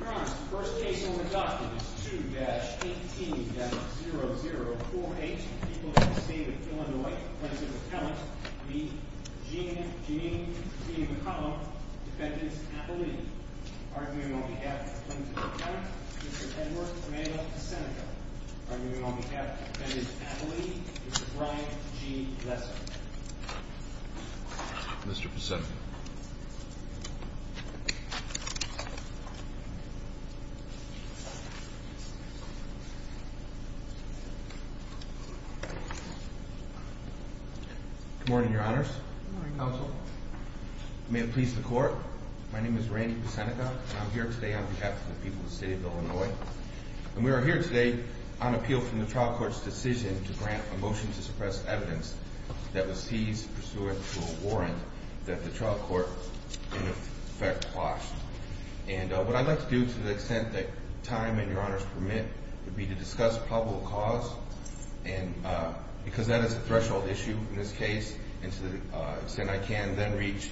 Your Honor, the first case on the docket is 2-18-0048, the people of the state of Illinois. The plaintiff's attorney will be Gene, Gene, Gene McCollum, defendant's athlete. Arguing on behalf of the plaintiff's attorney, Mr. Edward Rayla Pesenica. Arguing on behalf of the defendant's athlete, Mr. Brian G. Lesser. Mr. Pesenica. Good morning, Your Honors. Good morning, Counsel. May it please the Court, my name is Randy Pesenica. I'm here today on behalf of the people of the state of Illinois. And we are here today on appeal from the trial court's decision to grant a motion to suppress evidence that was seized pursuant to a warrant that the trial court in effect quashed. And what I'd like to do to the extent that time and Your Honors permit would be to discuss probable cause. And because that is a threshold issue in this case, and to the extent I can, then reach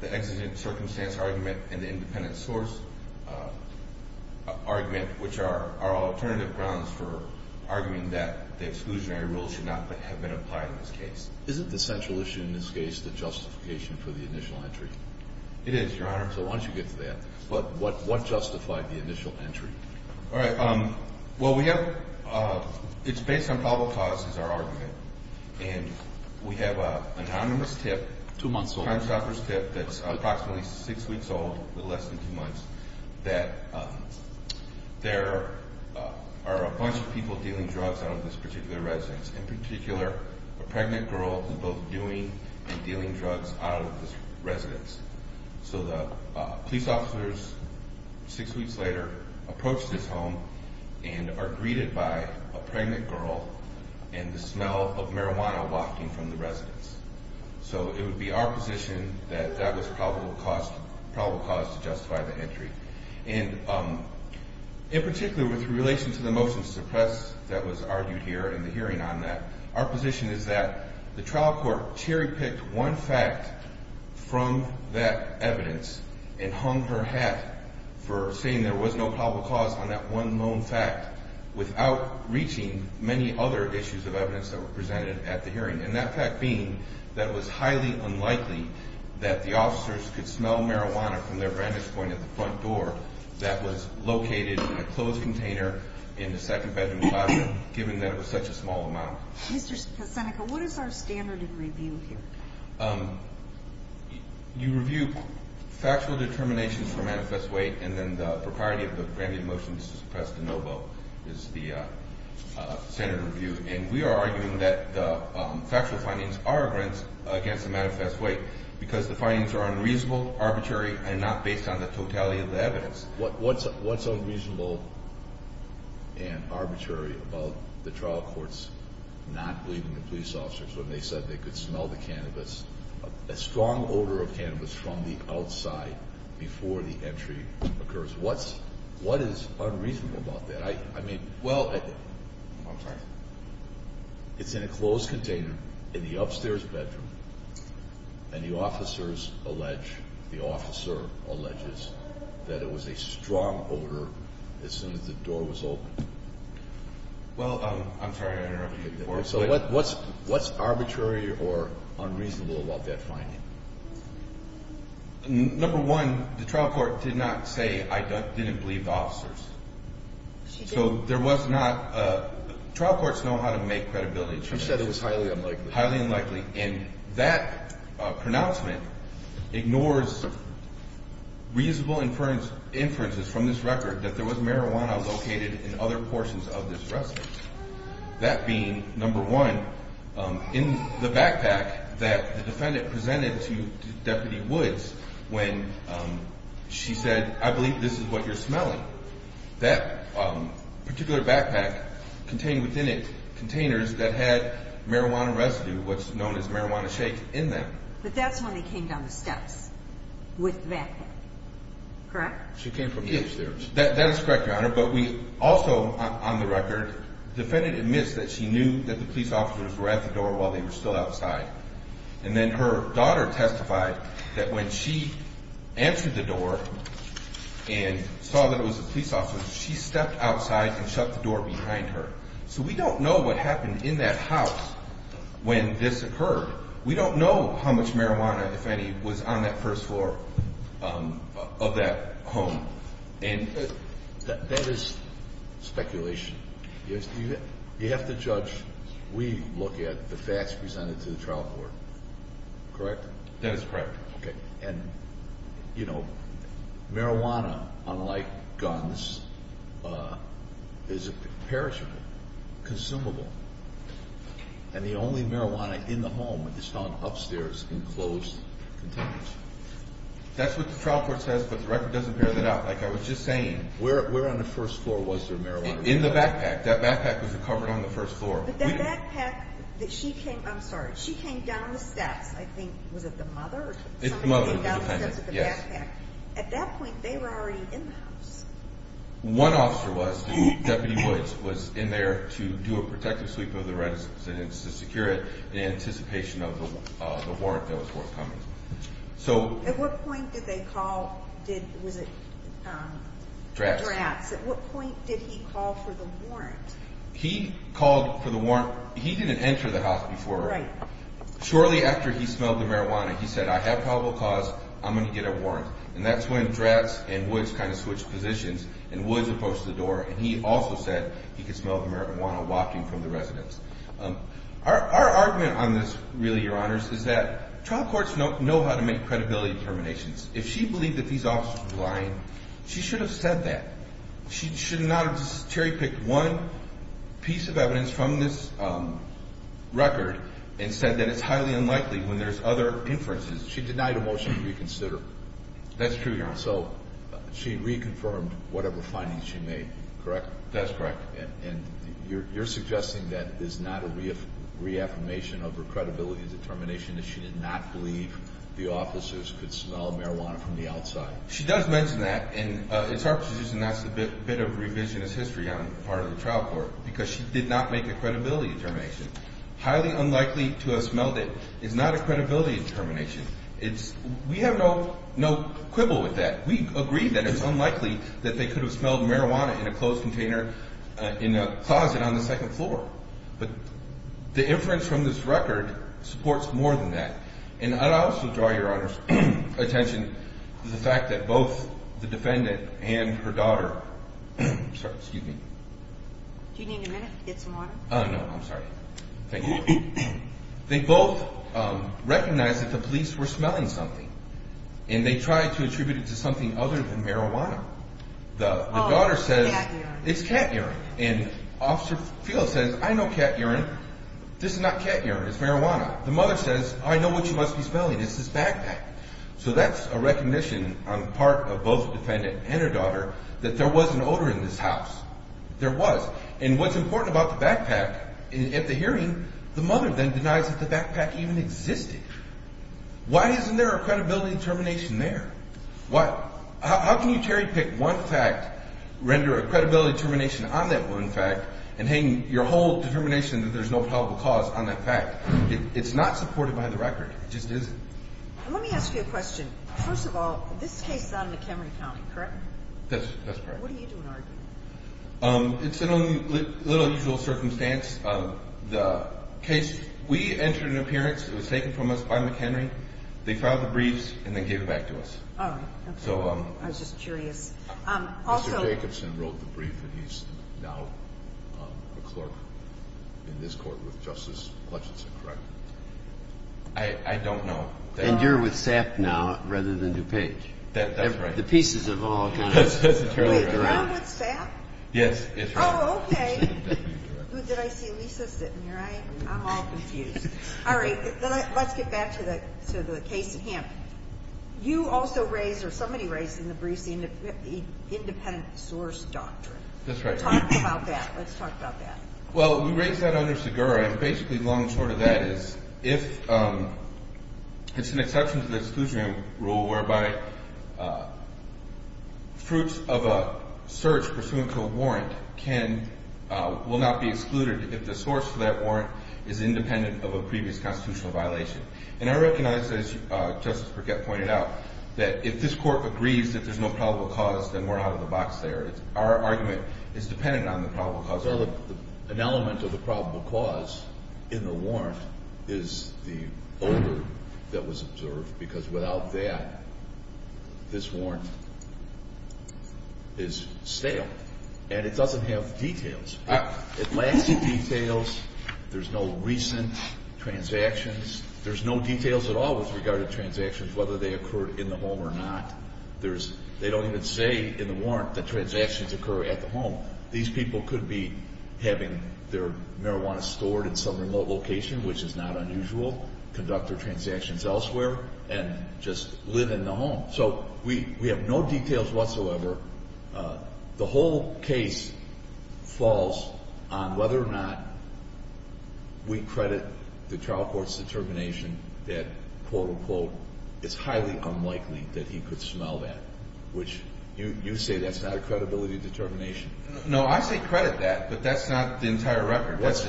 the exigent circumstance argument and the independent source argument, which are alternative grounds for arguing that the exclusionary rules should not have been applied in this case. Isn't the central issue in this case the justification for the initial entry? It is, Your Honor. So why don't you get to that. But what justified the initial entry? All right. Well, we have, it's based on probable cause is our argument. And we have an anonymous tip. Two months old. Time suffers tip that's approximately six weeks old, with less than two months, that there are a bunch of people dealing drugs out of this particular residence. So the police officers, six weeks later, approach this home and are greeted by a pregnant girl and the smell of marijuana wafting from the residence. So it would be our position that that was probable cause to justify the entry. And in particular with relation to the motion to suppress that was argued here and the hearing on that, our position is that the trial court cherry-picked one fact from that evidence and hung her hat for saying there was no probable cause on that one known fact without reaching many other issues of evidence that were presented at the hearing. And that fact being that it was highly unlikely that the officers could smell marijuana from their vantage point at the front door that was located in a closed container in the second bedroom closet, given that it was such a small amount. Mr. Seneca, what is our standard in review here? You review factual determinations for manifest weight and then the propriety of the granted motion to suppress de novo is the standard review. And we are arguing that the factual findings are against the manifest weight because the findings are unreasonable, arbitrary, and not based on the totality of the evidence. What's unreasonable and arbitrary about the trial courts not believing the police officers when they said they could smell the cannabis, a strong odor of cannabis, from the outside before the entry occurs? What is unreasonable about that? I mean, well, it's in a closed container in the upstairs bedroom and the officers allege, the officer alleges, that it was a strong odor as soon as the door was open. Well, I'm sorry to interrupt you. So what's arbitrary or unreasonable about that finding? Number one, the trial court did not say, I didn't believe the officers. So there was not, trial courts know how to make credibility changes. You said it was highly unlikely. Highly unlikely. And that pronouncement ignores reasonable inferences from this record that there was marijuana located in other portions of this residence. That being, number one, in the backpack that the defendant presented to Deputy Woods when she said, I believe this is what you're smelling. That particular backpack contained within it containers that had marijuana residue, what's known as marijuana shake, in them. But that's when they came down the steps with the backpack, correct? She came from the upstairs. That is correct, Your Honor, but we also, on the record, the defendant admits that she knew that the police officers were at the door while they were still outside. And then her daughter testified that when she answered the door and saw that it was the police officers, she stepped outside and shut the door behind her. So we don't know what happened in that house when this occurred. We don't know how much marijuana, if any, was on that first floor of that home. That is speculation. You have to judge. We look at the facts presented to the trial court, correct? That is correct. Okay. And, you know, marijuana, unlike guns, is perishable, consumable. And the only marijuana in the home is found upstairs in closed containers. That's what the trial court says, but the record doesn't bear that out. Like I was just saying, where on the first floor was there marijuana residue? In the backpack. That backpack was recovered on the first floor. But that backpack that she came, I'm sorry, she came down the steps, I think, was it the mother or somebody came down the steps with the backpack? It's the mother. Yes. At that point, they were already in the house. One officer was. Deputy Woods was in there to do a protective sweep of the residence to secure it in anticipation of the warrant that was forthcoming. At what point did they call? Was it Dratz? Dratz. At what point did he call for the warrant? He called for the warrant. He didn't enter the house before. Right. Shortly after he smelled the marijuana, he said, I have probable cause, I'm going to get a warrant. And that's when Dratz and Woods kind of switched positions, and Woods approached the door, and he also said he could smell the marijuana wafting from the residence. Our argument on this, really, Your Honors, is that trial courts know how to make credibility determinations. If she believed that these officers were lying, she should have said that. She should not have just cherry-picked one piece of evidence from this record and said that it's highly unlikely when there's other inferences. She denied a motion to reconsider. That's true, Your Honor. So she reconfirmed whatever findings she made, correct? That's correct. And you're suggesting that is not a reaffirmation of her credibility and determination that she did not believe the officers could smell marijuana from the outside? She does mention that, and it's our position that's a bit of revisionist history on the part of the trial court because she did not make a credibility determination. Highly unlikely to have smelled it is not a credibility determination. We have no quibble with that. We agree that it's unlikely that they could have smelled marijuana in a closed container in a closet on the second floor. But the inference from this record supports more than that. And I'd also draw Your Honor's attention to the fact that both the defendant and her daughter, they both recognized that the police were smelling something, and they tried to attribute it to something other than marijuana. The daughter says it's cat urine, and Officer Field says, I know cat urine. This is not cat urine. It's marijuana. The mother says, I know what you must be smelling. It's this backpack. So that's a recognition on the part of both the defendant and her daughter that there was an odor in this house. There was. And what's important about the backpack, at the hearing, the mother then denies that the backpack even existed. Why isn't there a credibility determination there? How can you cherry-pick one fact, render a credibility determination on that one fact, and hang your whole determination that there's no probable cause on that fact? It's not supported by the record. It just isn't. Let me ask you a question. First of all, this case is out of McHenry County, correct? That's correct. What are you doing arguing? It's a little unusual circumstance. The case, we entered an appearance. It was taken from us by McHenry. They filed the briefs and then gave it back to us. All right. I was just curious. Mr. Jacobson wrote the brief, and he's now a clerk in this court with Justice Hutchinson, correct? I don't know. And you're with SAP now rather than DuPage. That's right. The pieces have all kind of turned around. Wait, I'm with SAP? Yes. Oh, okay. Did I see Lisa sitting here? I'm all confused. All right. Let's get back to the case of him. You also raised, or somebody raised in the briefs, the independent source doctrine. That's right. Talk about that. Let's talk about that. Well, we raised that under Segura, and basically long and short of that is if it's an exception to the exclusion rule whereby fruits of a search pursuant to a warrant will not be excluded if the source of that warrant is independent of a previous constitutional violation. And I recognize, as Justice Burkett pointed out, that if this court agrees that there's no probable cause, then we're out of the box there. Our argument is dependent on the probable cause. An element of the probable cause in the warrant is the odor that was observed, because without that, this warrant is stale, and it doesn't have details. It lacks the details. There's no recent transactions. There's no details at all with regard to transactions, whether they occurred in the home or not. They don't even say in the warrant that transactions occur at the home. These people could be having their marijuana stored in some remote location, which is not unusual, conduct their transactions elsewhere, and just live in the home. So we have no details whatsoever. The whole case falls on whether or not we credit the trial court's determination that, quote, unquote, it's highly unlikely that he could smell that, which you say that's not a credibility determination. No, I say credit that, but that's not the entire record. What's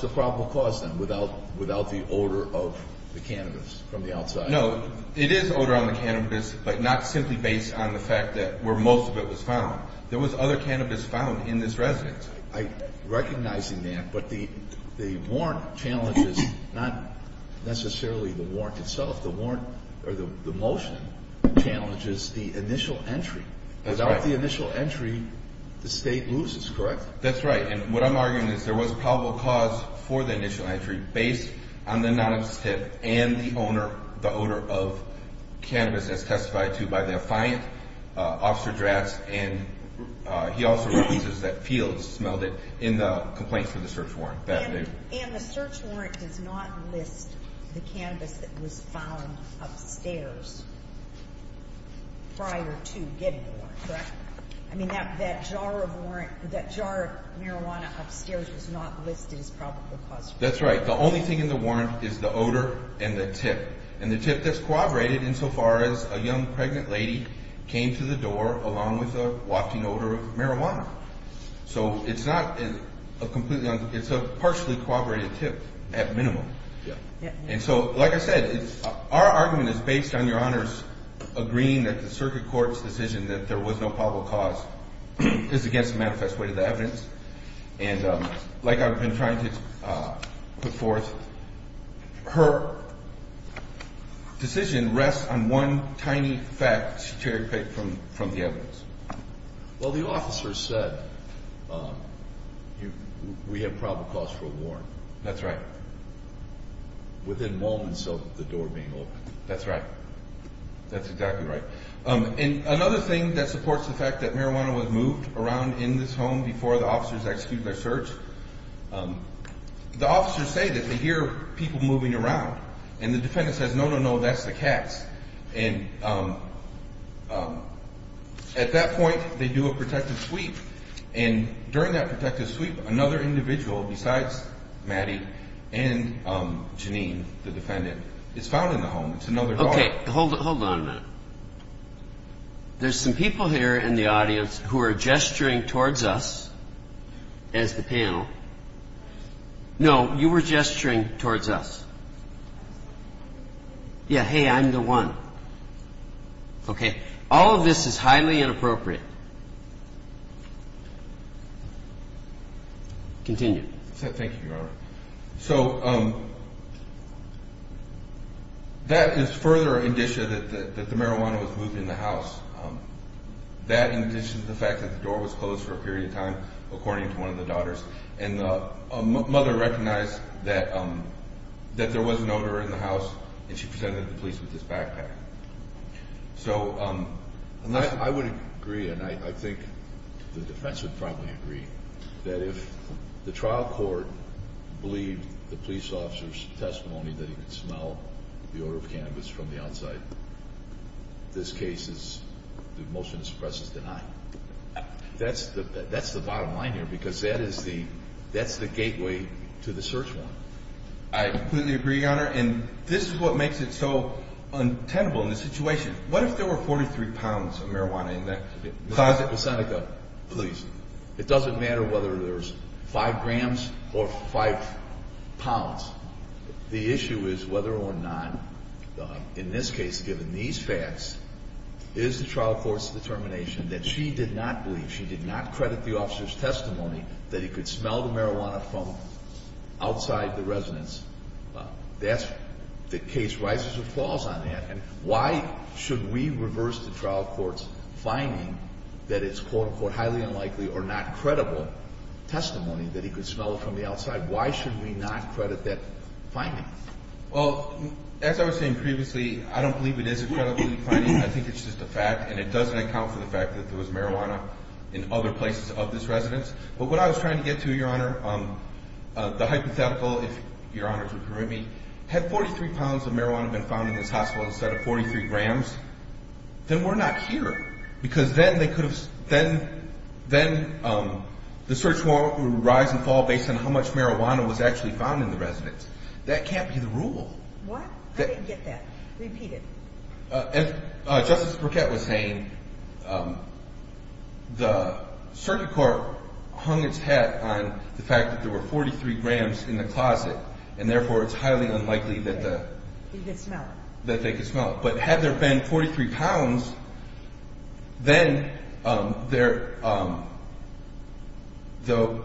the probable cause, then, without the odor of the cannabis from the outside? No, it is odor on the cannabis, but not simply based on the fact that where most of it was found. There was other cannabis found in this residence. I'm recognizing that, but the warrant challenges not necessarily the warrant itself. The motion challenges the initial entry. That's right. Without the initial entry, the State loses, correct? That's right. And what I'm arguing is there was probable cause for the initial entry based on the anonymous tip and the odor of cannabis as testified to by the affiant, Officer Drass. And he also releases that Fields smelled it in the complaints for the search warrant that day. And the search warrant does not list the cannabis that was found upstairs prior to getting the warrant, correct? I mean, that jar of marijuana upstairs is not listed as probable cause. That's right. The only thing in the warrant is the odor and the tip, and the tip that's corroborated insofar as a young pregnant lady came to the door along with a wafting odor of marijuana. So it's not a completely – it's a partially corroborated tip at minimum. And so, like I said, our argument is based on Your Honors agreeing that the circuit court's decision that there was no probable cause is against the manifest way to the evidence. And like I've been trying to put forth, her decision rests on one tiny fact she cherry-picked from the evidence. Well, the officer said we have probable cause for a warrant. That's right. Within moments of the door being opened. That's right. That's exactly right. And another thing that supports the fact that marijuana was moved around in this home before the officers executed their search, the officers say that they hear people moving around. And the defendant says, no, no, no, that's the cats. And at that point, they do a protective sweep. And during that protective sweep, another individual besides Maddie and Janine, the defendant, is found in the home. It's another daughter. Okay, hold on a minute. There's some people here in the audience who are gesturing towards us as the panel. No, you were gesturing towards us. Yeah, hey, I'm the one. Okay. All of this is highly inappropriate. Continue. Thank you, Your Honor. So that is further indicia that the marijuana was moved in the house. That indicia is the fact that the door was closed for a period of time, according to one of the daughters. And the mother recognized that there was an odor in the house, and she presented the police with this backpack. So I would agree, and I think the defense would probably agree, that if the trial court believed the police officer's testimony that he could smell the odor of cannabis from the outside, this case is the motion to suppress is denied. That's the bottom line here, because that is the gateway to the search warrant. I completely agree, Your Honor, and this is what makes it so untenable in this situation. What if there were 43 pounds of marijuana in that closet? Ms. Seneca, please. It doesn't matter whether there's 5 grams or 5 pounds. The issue is whether or not, in this case, given these facts, is the trial court's determination that she did not believe, she did not credit the officer's testimony that he could smell the marijuana from outside the residence. The case rises or falls on that. And why should we reverse the trial court's finding that it's, quote-unquote, highly unlikely or not credible testimony that he could smell it from the outside? Why should we not credit that finding? Well, as I was saying previously, I don't believe it is a credibility finding. I think it's just a fact, and it doesn't account for the fact that there was marijuana in other places of this residence. But what I was trying to get to, Your Honor, the hypothetical, if Your Honors would permit me, had 43 pounds of marijuana been found in this hospital instead of 43 grams, then we're not here, because then the search warrant would rise and fall based on how much marijuana was actually found in the residence. That can't be the rule. What? I didn't get that. Repeat it. As Justice Burkett was saying, the circuit court hung its hat on the fact that there were 43 grams in the closet, and therefore it's highly unlikely that they could smell it. But had there been 43 pounds, then the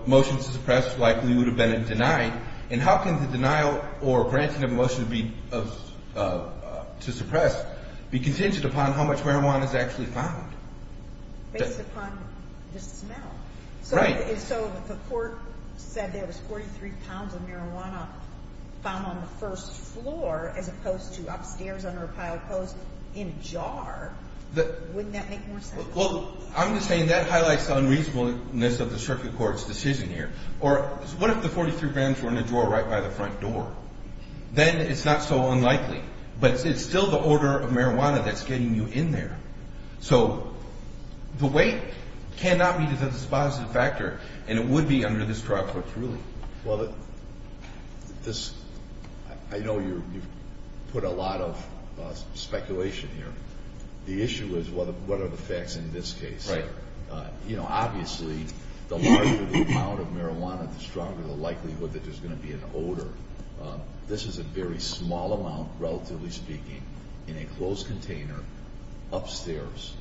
motion to suppress likely would have been denied. And how can the denial or granting of a motion to suppress be contingent upon how much marijuana is actually found? Based upon the smell. Right. So if the court said there was 43 pounds of marijuana found on the first floor as opposed to upstairs under a pile of clothes in a jar, wouldn't that make more sense? Well, I'm just saying that highlights the unreasonableness of the circuit court's decision here. Or what if the 43 grams were in a drawer right by the front door? Then it's not so unlikely. But it's still the order of marijuana that's getting you in there. So the weight cannot be just a dispositive factor, and it would be under this trial court's ruling. Well, I know you've put a lot of speculation here. The issue is what are the facts in this case? Right. Obviously, the larger the amount of marijuana, the stronger the likelihood that there's going to be an odor. This is a very small amount, relatively speaking, in a closed container upstairs.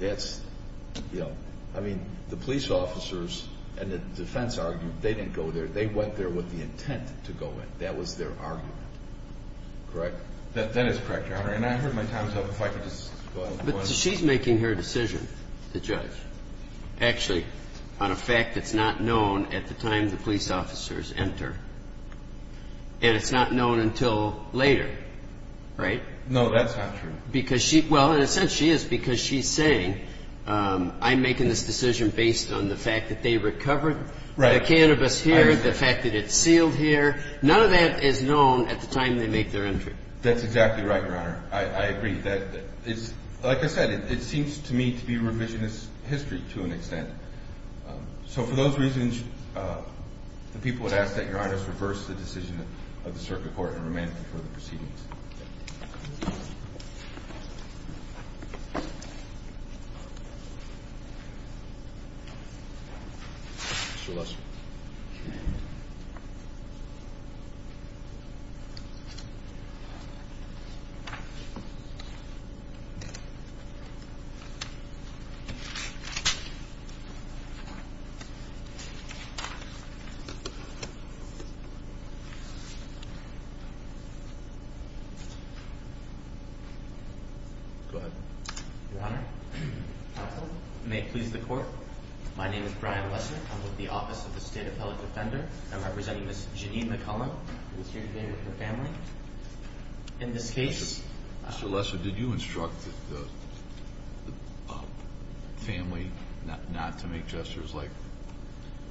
That's, you know, I mean, the police officers and the defense argued they didn't go there. They went there with the intent to go in. That was their argument. Correct? That is correct, Your Honor. And I heard my time is up. If I could just go ahead and go on. So she's making her decision, the judge, actually, on a fact that's not known at the time the police officers enter. And it's not known until later, right? No, that's not true. Well, in a sense, she is, because she's saying, I'm making this decision based on the fact that they recovered the cannabis here, the fact that it's sealed here. None of that is known at the time they make their entry. That's exactly right, Your Honor. I agree. Like I said, it seems to me to be revisionist history to an extent. So for those reasons, the people would ask that Your Honor reverse the decision of the circuit court and remain for the proceedings. Thank you. Go ahead. Your Honor, may it please the court. My name is Brian Lesser. I'm with the Office of the State Appellate Defender. I'm representing Ms. Janine McCullum, who is here today with her family. In this case- Mr. Lesser, did you instruct the family not to make gestures like-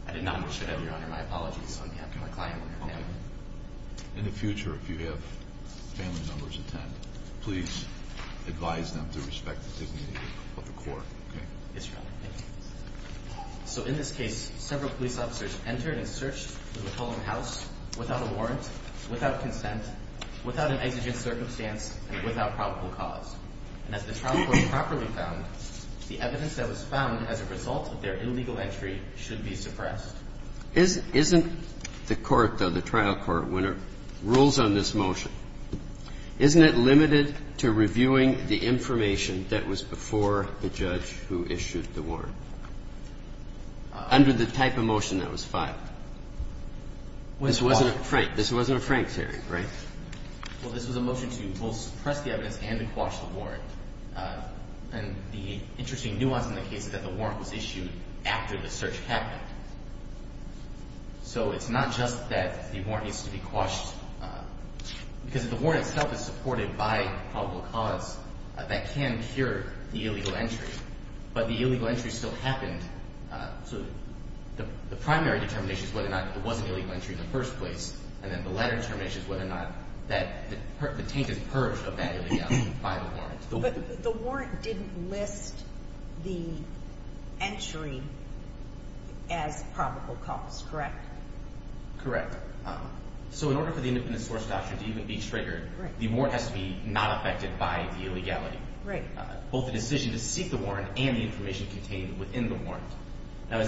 I did not, Your Honor. My apologies on behalf of my client and her family. In the future, if you have family members attend, please advise them to respect the dignity of the court, okay? Yes, Your Honor. Thank you. So in this case, several police officers entered and searched the McCullum house without a warrant, without consent, without an exigent circumstance, and without probable cause. And as the trial court properly found, the evidence that was found as a result of their illegal entry should be suppressed. Isn't the court, though, the trial court, when it rules on this motion, isn't it limited to reviewing the information that was before the judge who issued the warrant? Under the type of motion that was filed. This wasn't a Frank. This wasn't a Frank hearing, right? Well, this was a motion to both suppress the evidence and to quash the warrant. And the interesting nuance in the case is that the warrant was issued after the search happened. So it's not just that the warrant needs to be quashed. Because if the warrant itself is supported by probable cause, that can cure the illegal entry. But the illegal entry still happened. So the primary determination is whether or not there was an illegal entry in the first place. And then the latter determination is whether or not the tank is purged of that illegal by the warrant. But the warrant didn't list the entry as probable cause, correct? Correct. So in order for the independent source doctrine to even be triggered, the warrant has to be not affected by the illegality. Right. Both the decision to seek the warrant and the information contained within the warrant.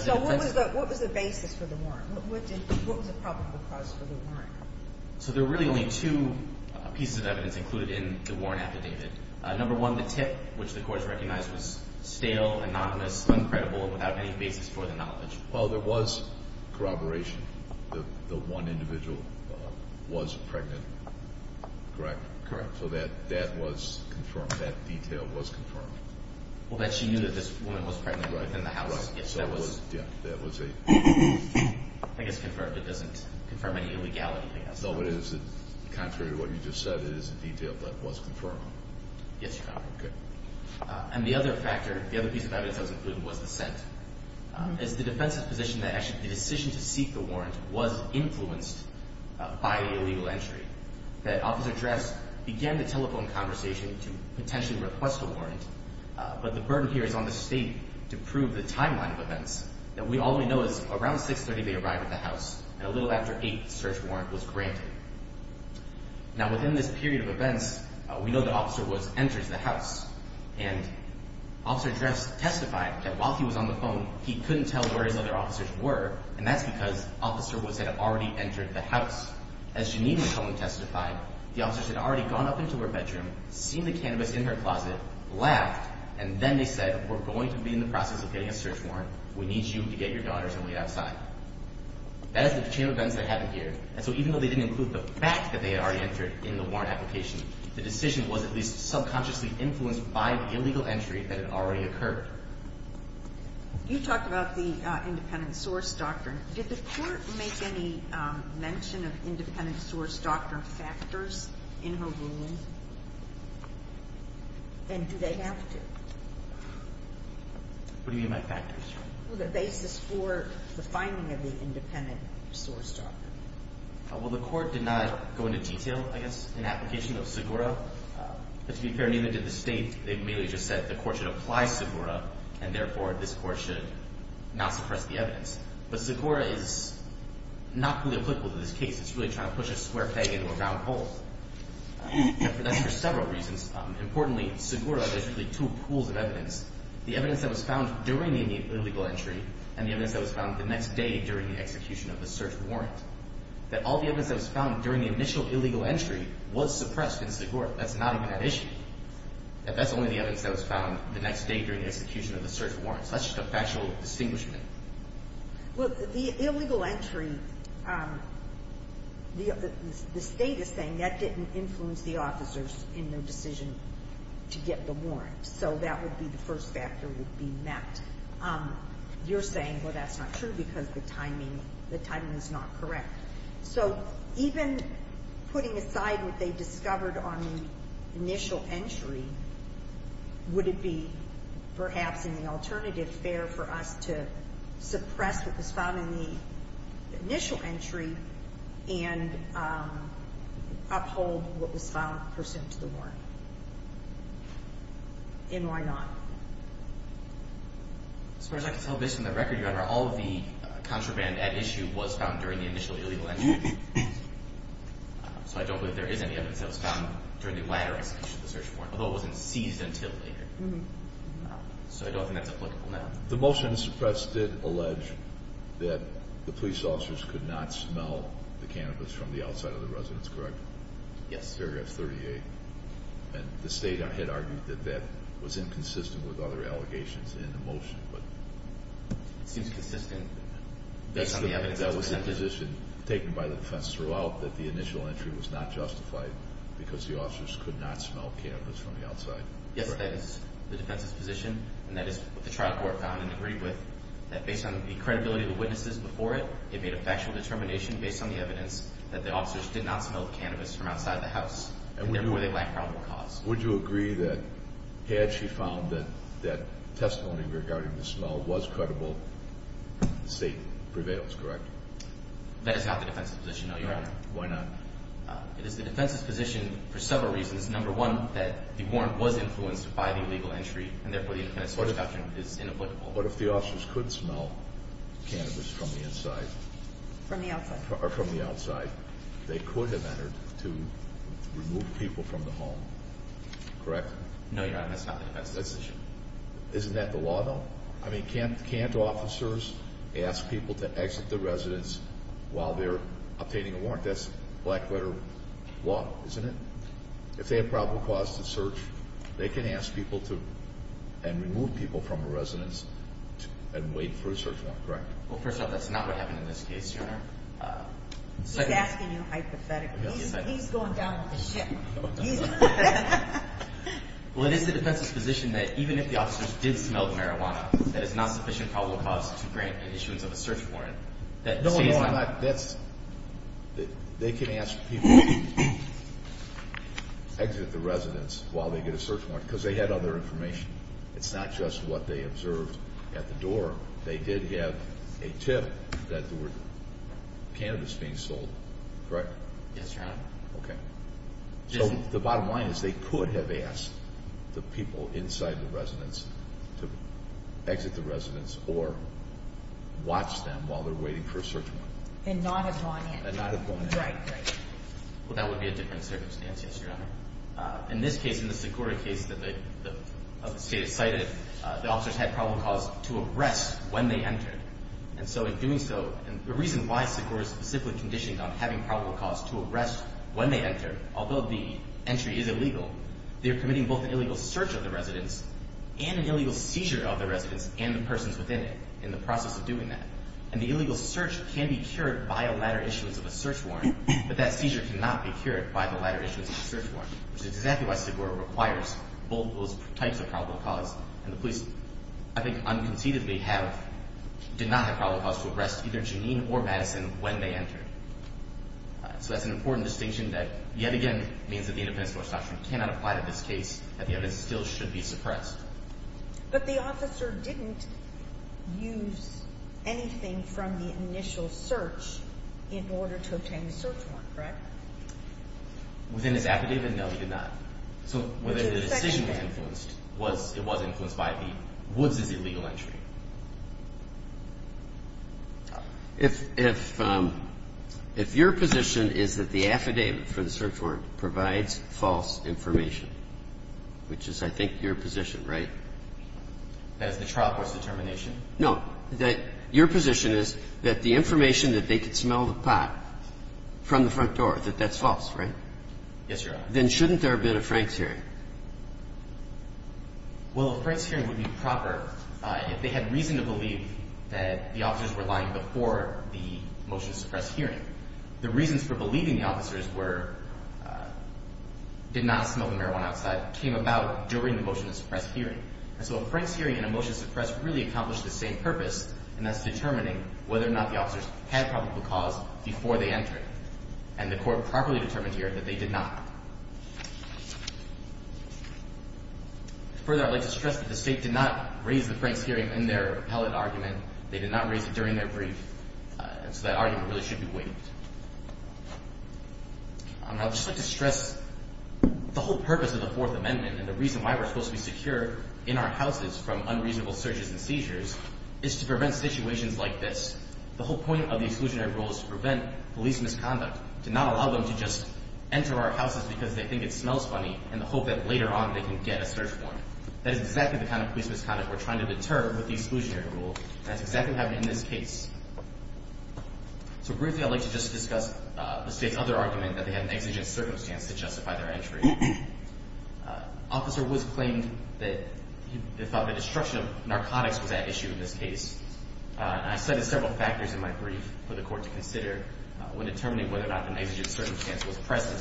So what was the basis for the warrant? So there were really only two pieces of evidence included in the warrant affidavit. Number one, the tip, which the courts recognized was stale, anonymous, uncredible, without any basis for the knowledge. Well, there was corroboration. The one individual was pregnant. Correct? Correct. So that was confirmed. That detail was confirmed. Well, that she knew that this woman was pregnant within the house. Right. So that was a, I guess, confirmed. It doesn't confirm any illegality. No, but is it contrary to what you just said? It is a detail that was confirmed. Yes, Your Honor. Okay. And the other factor, the other piece of evidence that was included was the scent. It's the defense's position that actually the decision to seek the warrant was influenced by illegal entry, that Officer Dress began the telephone conversation to potentially request a warrant, but the burden here is on the state to prove the timeline of events. All we know is around 630 they arrived at the house, and a little after 8, the search warrant was granted. Now, within this period of events, we know that Officer Woods enters the house, and Officer Dress testified that while he was on the phone, he couldn't tell where his other officers were, and that's because Officer Woods had already entered the house. As Janine McClellan testified, the officers had already gone up into her bedroom, seen the cannabis in her closet, laughed, and then they said, we're going to be in the process of getting a search warrant. We need you to get your daughters and wait outside. That is the chain of events that happened here. And so even though they didn't include the fact that they had already entered in the warrant application, the decision was at least subconsciously influenced by the illegal entry that had already occurred. You talked about the independent source doctrine. Did the court make any mention of independent source doctrine factors in her ruling? And do they have to? What do you mean by factors? The basis for the finding of the independent source doctrine. Well, the court did not go into detail, I guess, in application of SIGURA. But to be fair, neither did the state. They merely just said the court should apply SIGURA, and therefore this court should not suppress the evidence. But SIGURA is not fully applicable to this case. It's really trying to push a square peg into a round hole. That's for several reasons. Importantly, SIGURA is really two pools of evidence. The evidence that was found during the illegal entry, and the evidence that was found the next day during the execution of the search warrant. That all the evidence that was found during the initial illegal entry was suppressed in SIGURA. That's not even an issue. That that's only the evidence that was found the next day during the execution of the search warrant. That's not such a factual distinguishment. Well, the illegal entry, the State is saying that didn't influence the officers in their decision to get the warrant. So that would be the first factor would be met. You're saying, well, that's not true because the timing is not correct. So even putting aside what they discovered on the initial entry, would it be perhaps in the alternative fair for us to suppress what was found in the initial entry and uphold what was found pursuant to the warrant? And why not? As far as I can tell, based on the record, Your Honor, all of the contraband at issue was found during the initial illegal entry. So I don't believe there is any evidence that was found during the latter execution of the search warrant, although it wasn't seized until later. So I don't think that's applicable now. The motion suppressed did allege that the police officers could not smell the cannabis from the outside of the residence, correct? Yes. And the State had argued that that was inconsistent with other allegations in the motion. It seems consistent based on the evidence presented. That was the position taken by the defense throughout, that the initial entry was not justified because the officers could not smell cannabis from the outside. Yes, that is the defense's position, and that is what the trial court found and agreed with, that based on the credibility of the witnesses before it, it made a factual determination based on the evidence that the officers did not smell the cannabis from outside the house, and therefore they lack probable cause. Would you agree that had she found that that testimony regarding the smell was credible, the State prevails, correct? That is not the defense's position, no, Your Honor. Why not? It is the defense's position for several reasons. Number one, that the warrant was influenced by the illegal entry, and therefore the independent search doctrine is inapplicable. But if the officers could smell cannabis from the inside... From the outside. Or from the outside, they could have entered to remove people from the home, correct? No, Your Honor, that is not the defense's position. Isn't that the law, though? I mean, can't officers ask people to exit the residence while they're obtaining a warrant? That's black-letter law, isn't it? If they have probable cause to search, they can ask people to remove people from a residence and wait for a search warrant, correct? Well, first off, that's not what happened in this case, Your Honor. He's asking you hypothetically. He's going down with the ship. Well, it is the defense's position that even if the officers did smell the marijuana, that it's not sufficient probable cause to grant an issuance of a search warrant. No, Your Honor, they can ask people to exit the residence while they get a search warrant because they had other information. It's not just what they observed at the door. They did have a tip that there were cannabis being sold, correct? Yes, Your Honor. Okay. So the bottom line is they could have asked the people inside the residence to exit the residence or watch them while they're waiting for a search warrant. And not have gone in. And not have gone in. Right, right. Well, that would be a different circumstance, yes, Your Honor. In this case, in the Segura case that the State has cited, the officers had probable cause to arrest when they entered. And so in doing so, and the reason why Segura is specifically conditioned on having probable cause to arrest when they enter, although the entry is illegal, they're committing both an illegal search of the residence and an illegal seizure of the residence and the persons within it in the process of doing that. And the illegal search can be cured by a latter issuance of a search warrant, but that seizure cannot be cured by the latter issuance of a search warrant, which is exactly why Segura requires both of those types of probable cause. And the police, I think, unconceivably have, did not have probable cause to arrest either Janine or Madison when they entered. So that's an important distinction that, yet again, means that the independent search doctrine cannot apply to this case, that the evidence still should be suppressed. But the officer didn't use anything from the initial search in order to obtain the search warrant, correct? Within his affidavit, no, he did not. So whether the decision was influenced, it was influenced by the Woods' illegal entry. If your position is that the affidavit for the search warrant provides false information, which is, I think, your position, right? That is the trial court's determination? No. Your position is that the information that they could smell the pot from the front door, that that's false, right? Yes, Your Honor. Then shouldn't there have been a Franks hearing? I have reason to believe that the officers were lying before the motion to suppress hearing. The reasons for believing the officers did not smoke the marijuana outside came about during the motion to suppress hearing. And so a Franks hearing and a motion to suppress really accomplish the same purpose, and that's determining whether or not the officers had probable cause before they entered. And the court properly determined here that they did not. Further, I'd like to stress that the State did not raise the Franks hearing in their appellate argument. They did not raise it during their brief. So that argument really should be waived. I'd just like to stress the whole purpose of the Fourth Amendment and the reason why we're supposed to be secure in our houses from unreasonable searches and seizures is to prevent situations like this. The whole point of the exclusionary rule is to prevent police misconduct, to not allow them to just enter our houses because they think it smells funny in the hope that later on they can get a search warrant. That is exactly the kind of police misconduct we're trying to deter with the exclusionary rule, and that's exactly what happened in this case. So briefly, I'd like to just discuss the State's other argument, that they had an exigent circumstance to justify their entry. Officer Woods claimed that he thought the destruction of narcotics was at issue in this case. I cited several factors in my brief for the Court to consider when determining whether or not an exigent circumstance was present.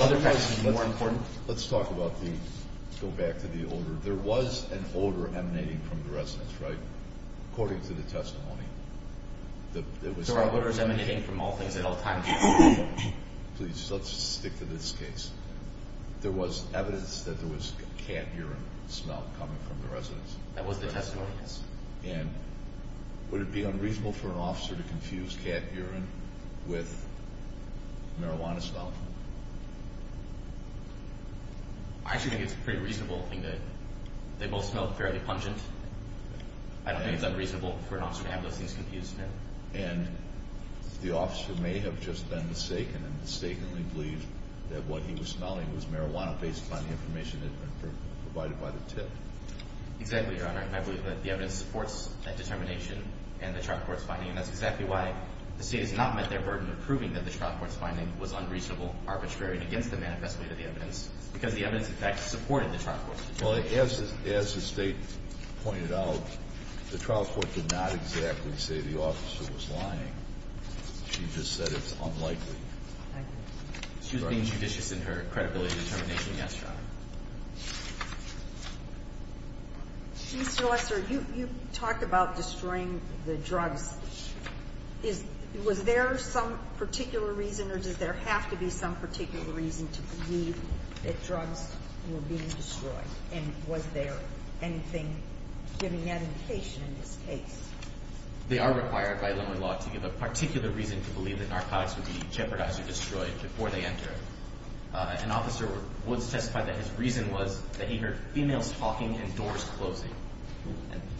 Other factors would be more important. Let's talk about the—go back to the odor. There was an odor emanating from the residence, right, according to the testimony? There were odors emanating from all things at all times. Please, let's stick to this case. There was evidence that there was cat urine smell coming from the residence. That was the testimony. And would it be unreasonable for an officer to confuse cat urine with marijuana smell? I actually think it's pretty reasonable. I think that they both smelled fairly pungent. I don't think it's unreasonable for an officer to have those things confused, no. And the officer may have just been mistaken and mistakenly believed that what he was smelling was marijuana based upon the information that had been provided by the tip. Exactly, Your Honor. I believe that the evidence supports that determination and the trial court's finding, and that's exactly why the State has not met their burden of proving that the trial court's finding was unreasonable, arbitrary, and against the manifest way of the evidence, because the evidence, in fact, supported the trial court's determination. Well, as the State pointed out, the trial court did not exactly say the officer was lying. She just said it's unlikely. She was being judicious in her credibility determination, yes, Your Honor. Mr. Lesser, you talked about destroying the drugs. Was there some particular reason, or does there have to be some particular reason, to believe that drugs were being destroyed? And was there anything giving indication in this case? They are required by Illinois law to give a particular reason to believe that narcotics would be jeopardized or destroyed before they entered. An officer was testified that his reason was that he heard females talking and doors closing.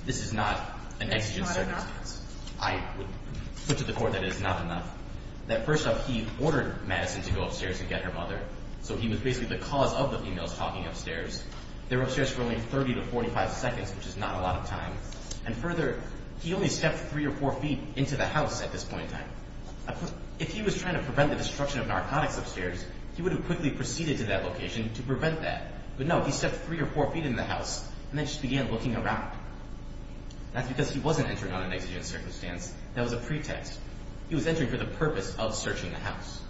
This is not an exigent circumstance. I would put to the court that it is not enough. That first off, he ordered Madison to go upstairs and get her mother, so he was basically the cause of the females talking upstairs. They were upstairs for only 30 to 45 seconds, which is not a lot of time. And further, he only stepped three or four feet into the house at this point in time. If he was trying to prevent the destruction of narcotics upstairs, he would have quickly proceeded to that location to prevent that. But no, he stepped three or four feet into the house, and then just began looking around. That's because he wasn't entering on an exigent circumstance. That was a pretext. He was entering for the purpose of searching the house.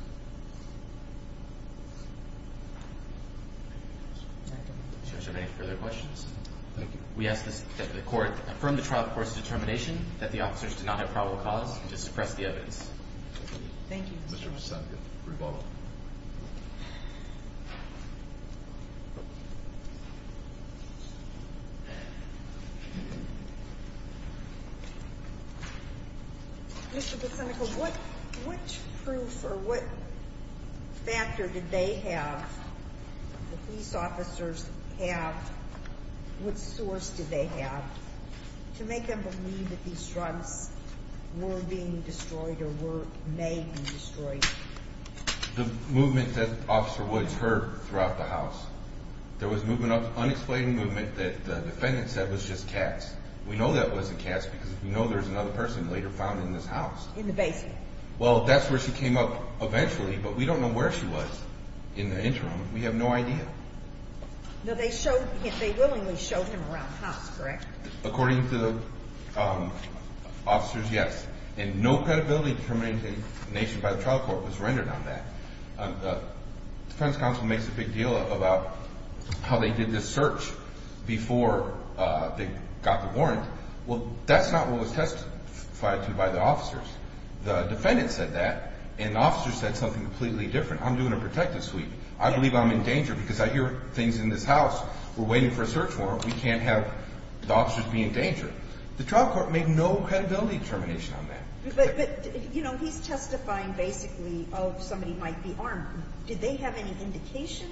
Do you have any further questions? We ask that the court affirm the trial court's determination that the officers did not have probable cause to suppress the evidence. Thank you. Mr. Bassanico, rebuttal. Mr. Bassanico, what proof or what factor did they have, the police officers have, what source did they have to make them believe that these drugs were being destroyed or may be destroyed? The movement that Officer Woods heard throughout the house. There was an unexplained movement that the defendant said was just cats. We know that wasn't cats because we know there's another person later found in this house. In the basement. Well, that's where she came up eventually, but we don't know where she was in the interim. We have no idea. They willingly showed him around the house, correct? According to the officers, yes. And no credibility determination by the trial court was rendered on that. The defense counsel makes a big deal about how they did this search before they got the warrant. Well, that's not what was testified to by the officers. The defendant said that, and the officers said something completely different. I'm doing a protective sweep. I believe I'm in danger because I hear things in this house. We're waiting for a search warrant. We can't have the officers be in danger. The trial court made no credibility determination on that. But, you know, he's testifying basically, oh, somebody might be armed. Did they have any indication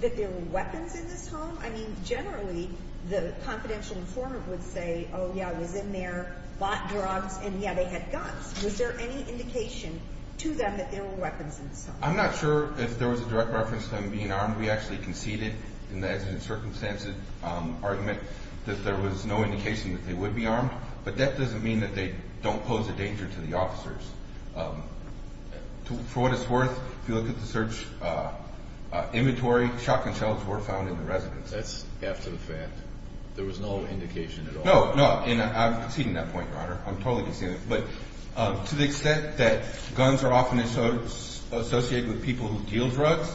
that there were weapons in this home? I mean, generally, the confidential informant would say, oh, yeah, it was in there, bought drugs, and, yeah, they had guns. Was there any indication to them that there were weapons in this home? I'm not sure if there was a direct reference to them being armed. We actually conceded in the accident circumstances argument that there was no indication that they would be armed. But that doesn't mean that they don't pose a danger to the officers. For what it's worth, if you look at the search inventory, shotgun shells were found in the residence. That's after the fact. There was no indication at all. No, no, and I'm conceding that point, Your Honor. I'm totally conceding it. But to the extent that guns are often associated with people who deal drugs,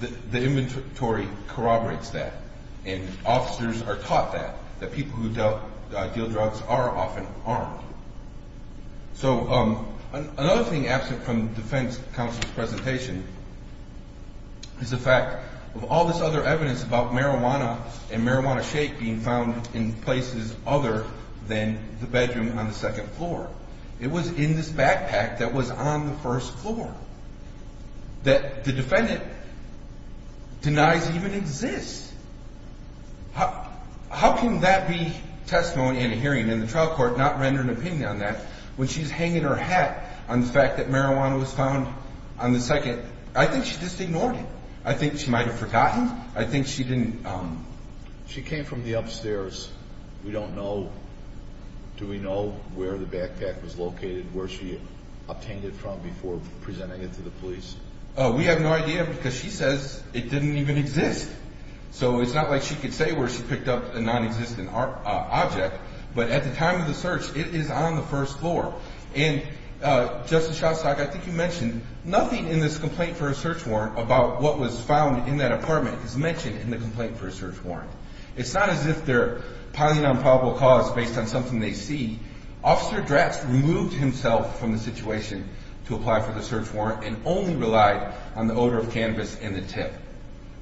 the inventory corroborates that, and officers are taught that, that people who deal drugs are often armed. So another thing absent from the defense counsel's presentation is the fact of all this other evidence about marijuana and marijuana shake being found in places other than the bedroom on the second floor. It was in this backpack that was on the first floor that the defendant denies even exists. How can that be testimony in a hearing and the trial court not render an opinion on that when she's hanging her hat on the fact that marijuana was found on the second? I think she just ignored it. I think she might have forgotten. I think she didn't. She came from the upstairs. We don't know. Do we know where the backpack was located, where she obtained it from before presenting it to the police? We have no idea because she says it didn't even exist. So it's not like she could say where she picked up a nonexistent object. But at the time of the search, it is on the first floor. And, Justice Shostak, I think you mentioned nothing in this complaint for a search warrant about what was found in that apartment is mentioned in the complaint for a search warrant. It's not as if they're piling on probable cause based on something they see. Officer Dratz removed himself from the situation to apply for the search warrant and only relied on the odor of cannabis and the tip.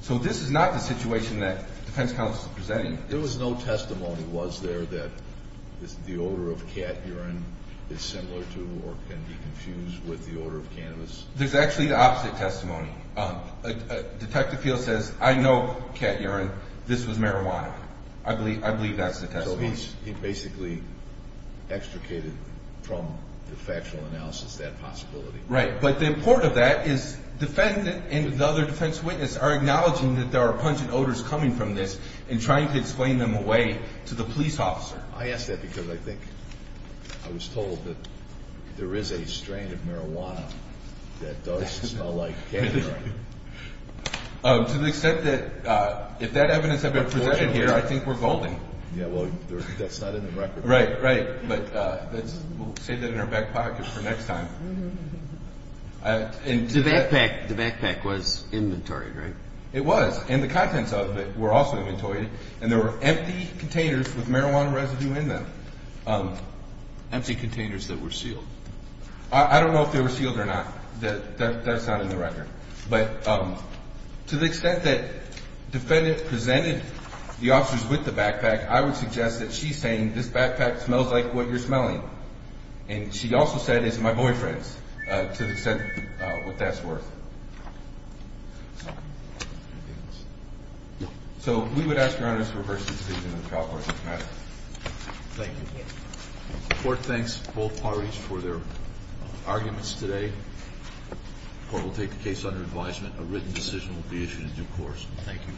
So this is not the situation that the defense counsel is presenting. There was no testimony, was there, that the odor of cat urine is similar to or can be confused with the odor of cannabis? There's actually the opposite testimony. Detective Fields says, I know cat urine. This was marijuana. I believe that's the testimony. So he basically extricated from the factual analysis that possibility. Right. But the important of that is the defendant and the other defense witness are acknowledging that there are pungent odors coming from this and trying to explain them away to the police officer. I ask that because I think I was told that there is a strain of marijuana that does smell like cat urine. To the extent that if that evidence had been presented here, I think we're golden. Yeah, well, that's not in the record. Right, right. But we'll save that in our back pocket for next time. The backpack was inventoried, right? It was. And the contents of it were also inventoried. And there were empty containers with marijuana residue in them. Empty containers that were sealed. I don't know if they were sealed or not. That's not in the record. But to the extent that the defendant presented the officers with the backpack, I would suggest that she's saying this backpack smells like what you're smelling. And she also said it's my boyfriend's, to the extent what that's worth. So we would ask Your Honor to reverse the decision in the trial court. Thank you. The court thanks both parties for their arguments today. The court will take the case under advisement. A written decision will be issued in due course. Thank you.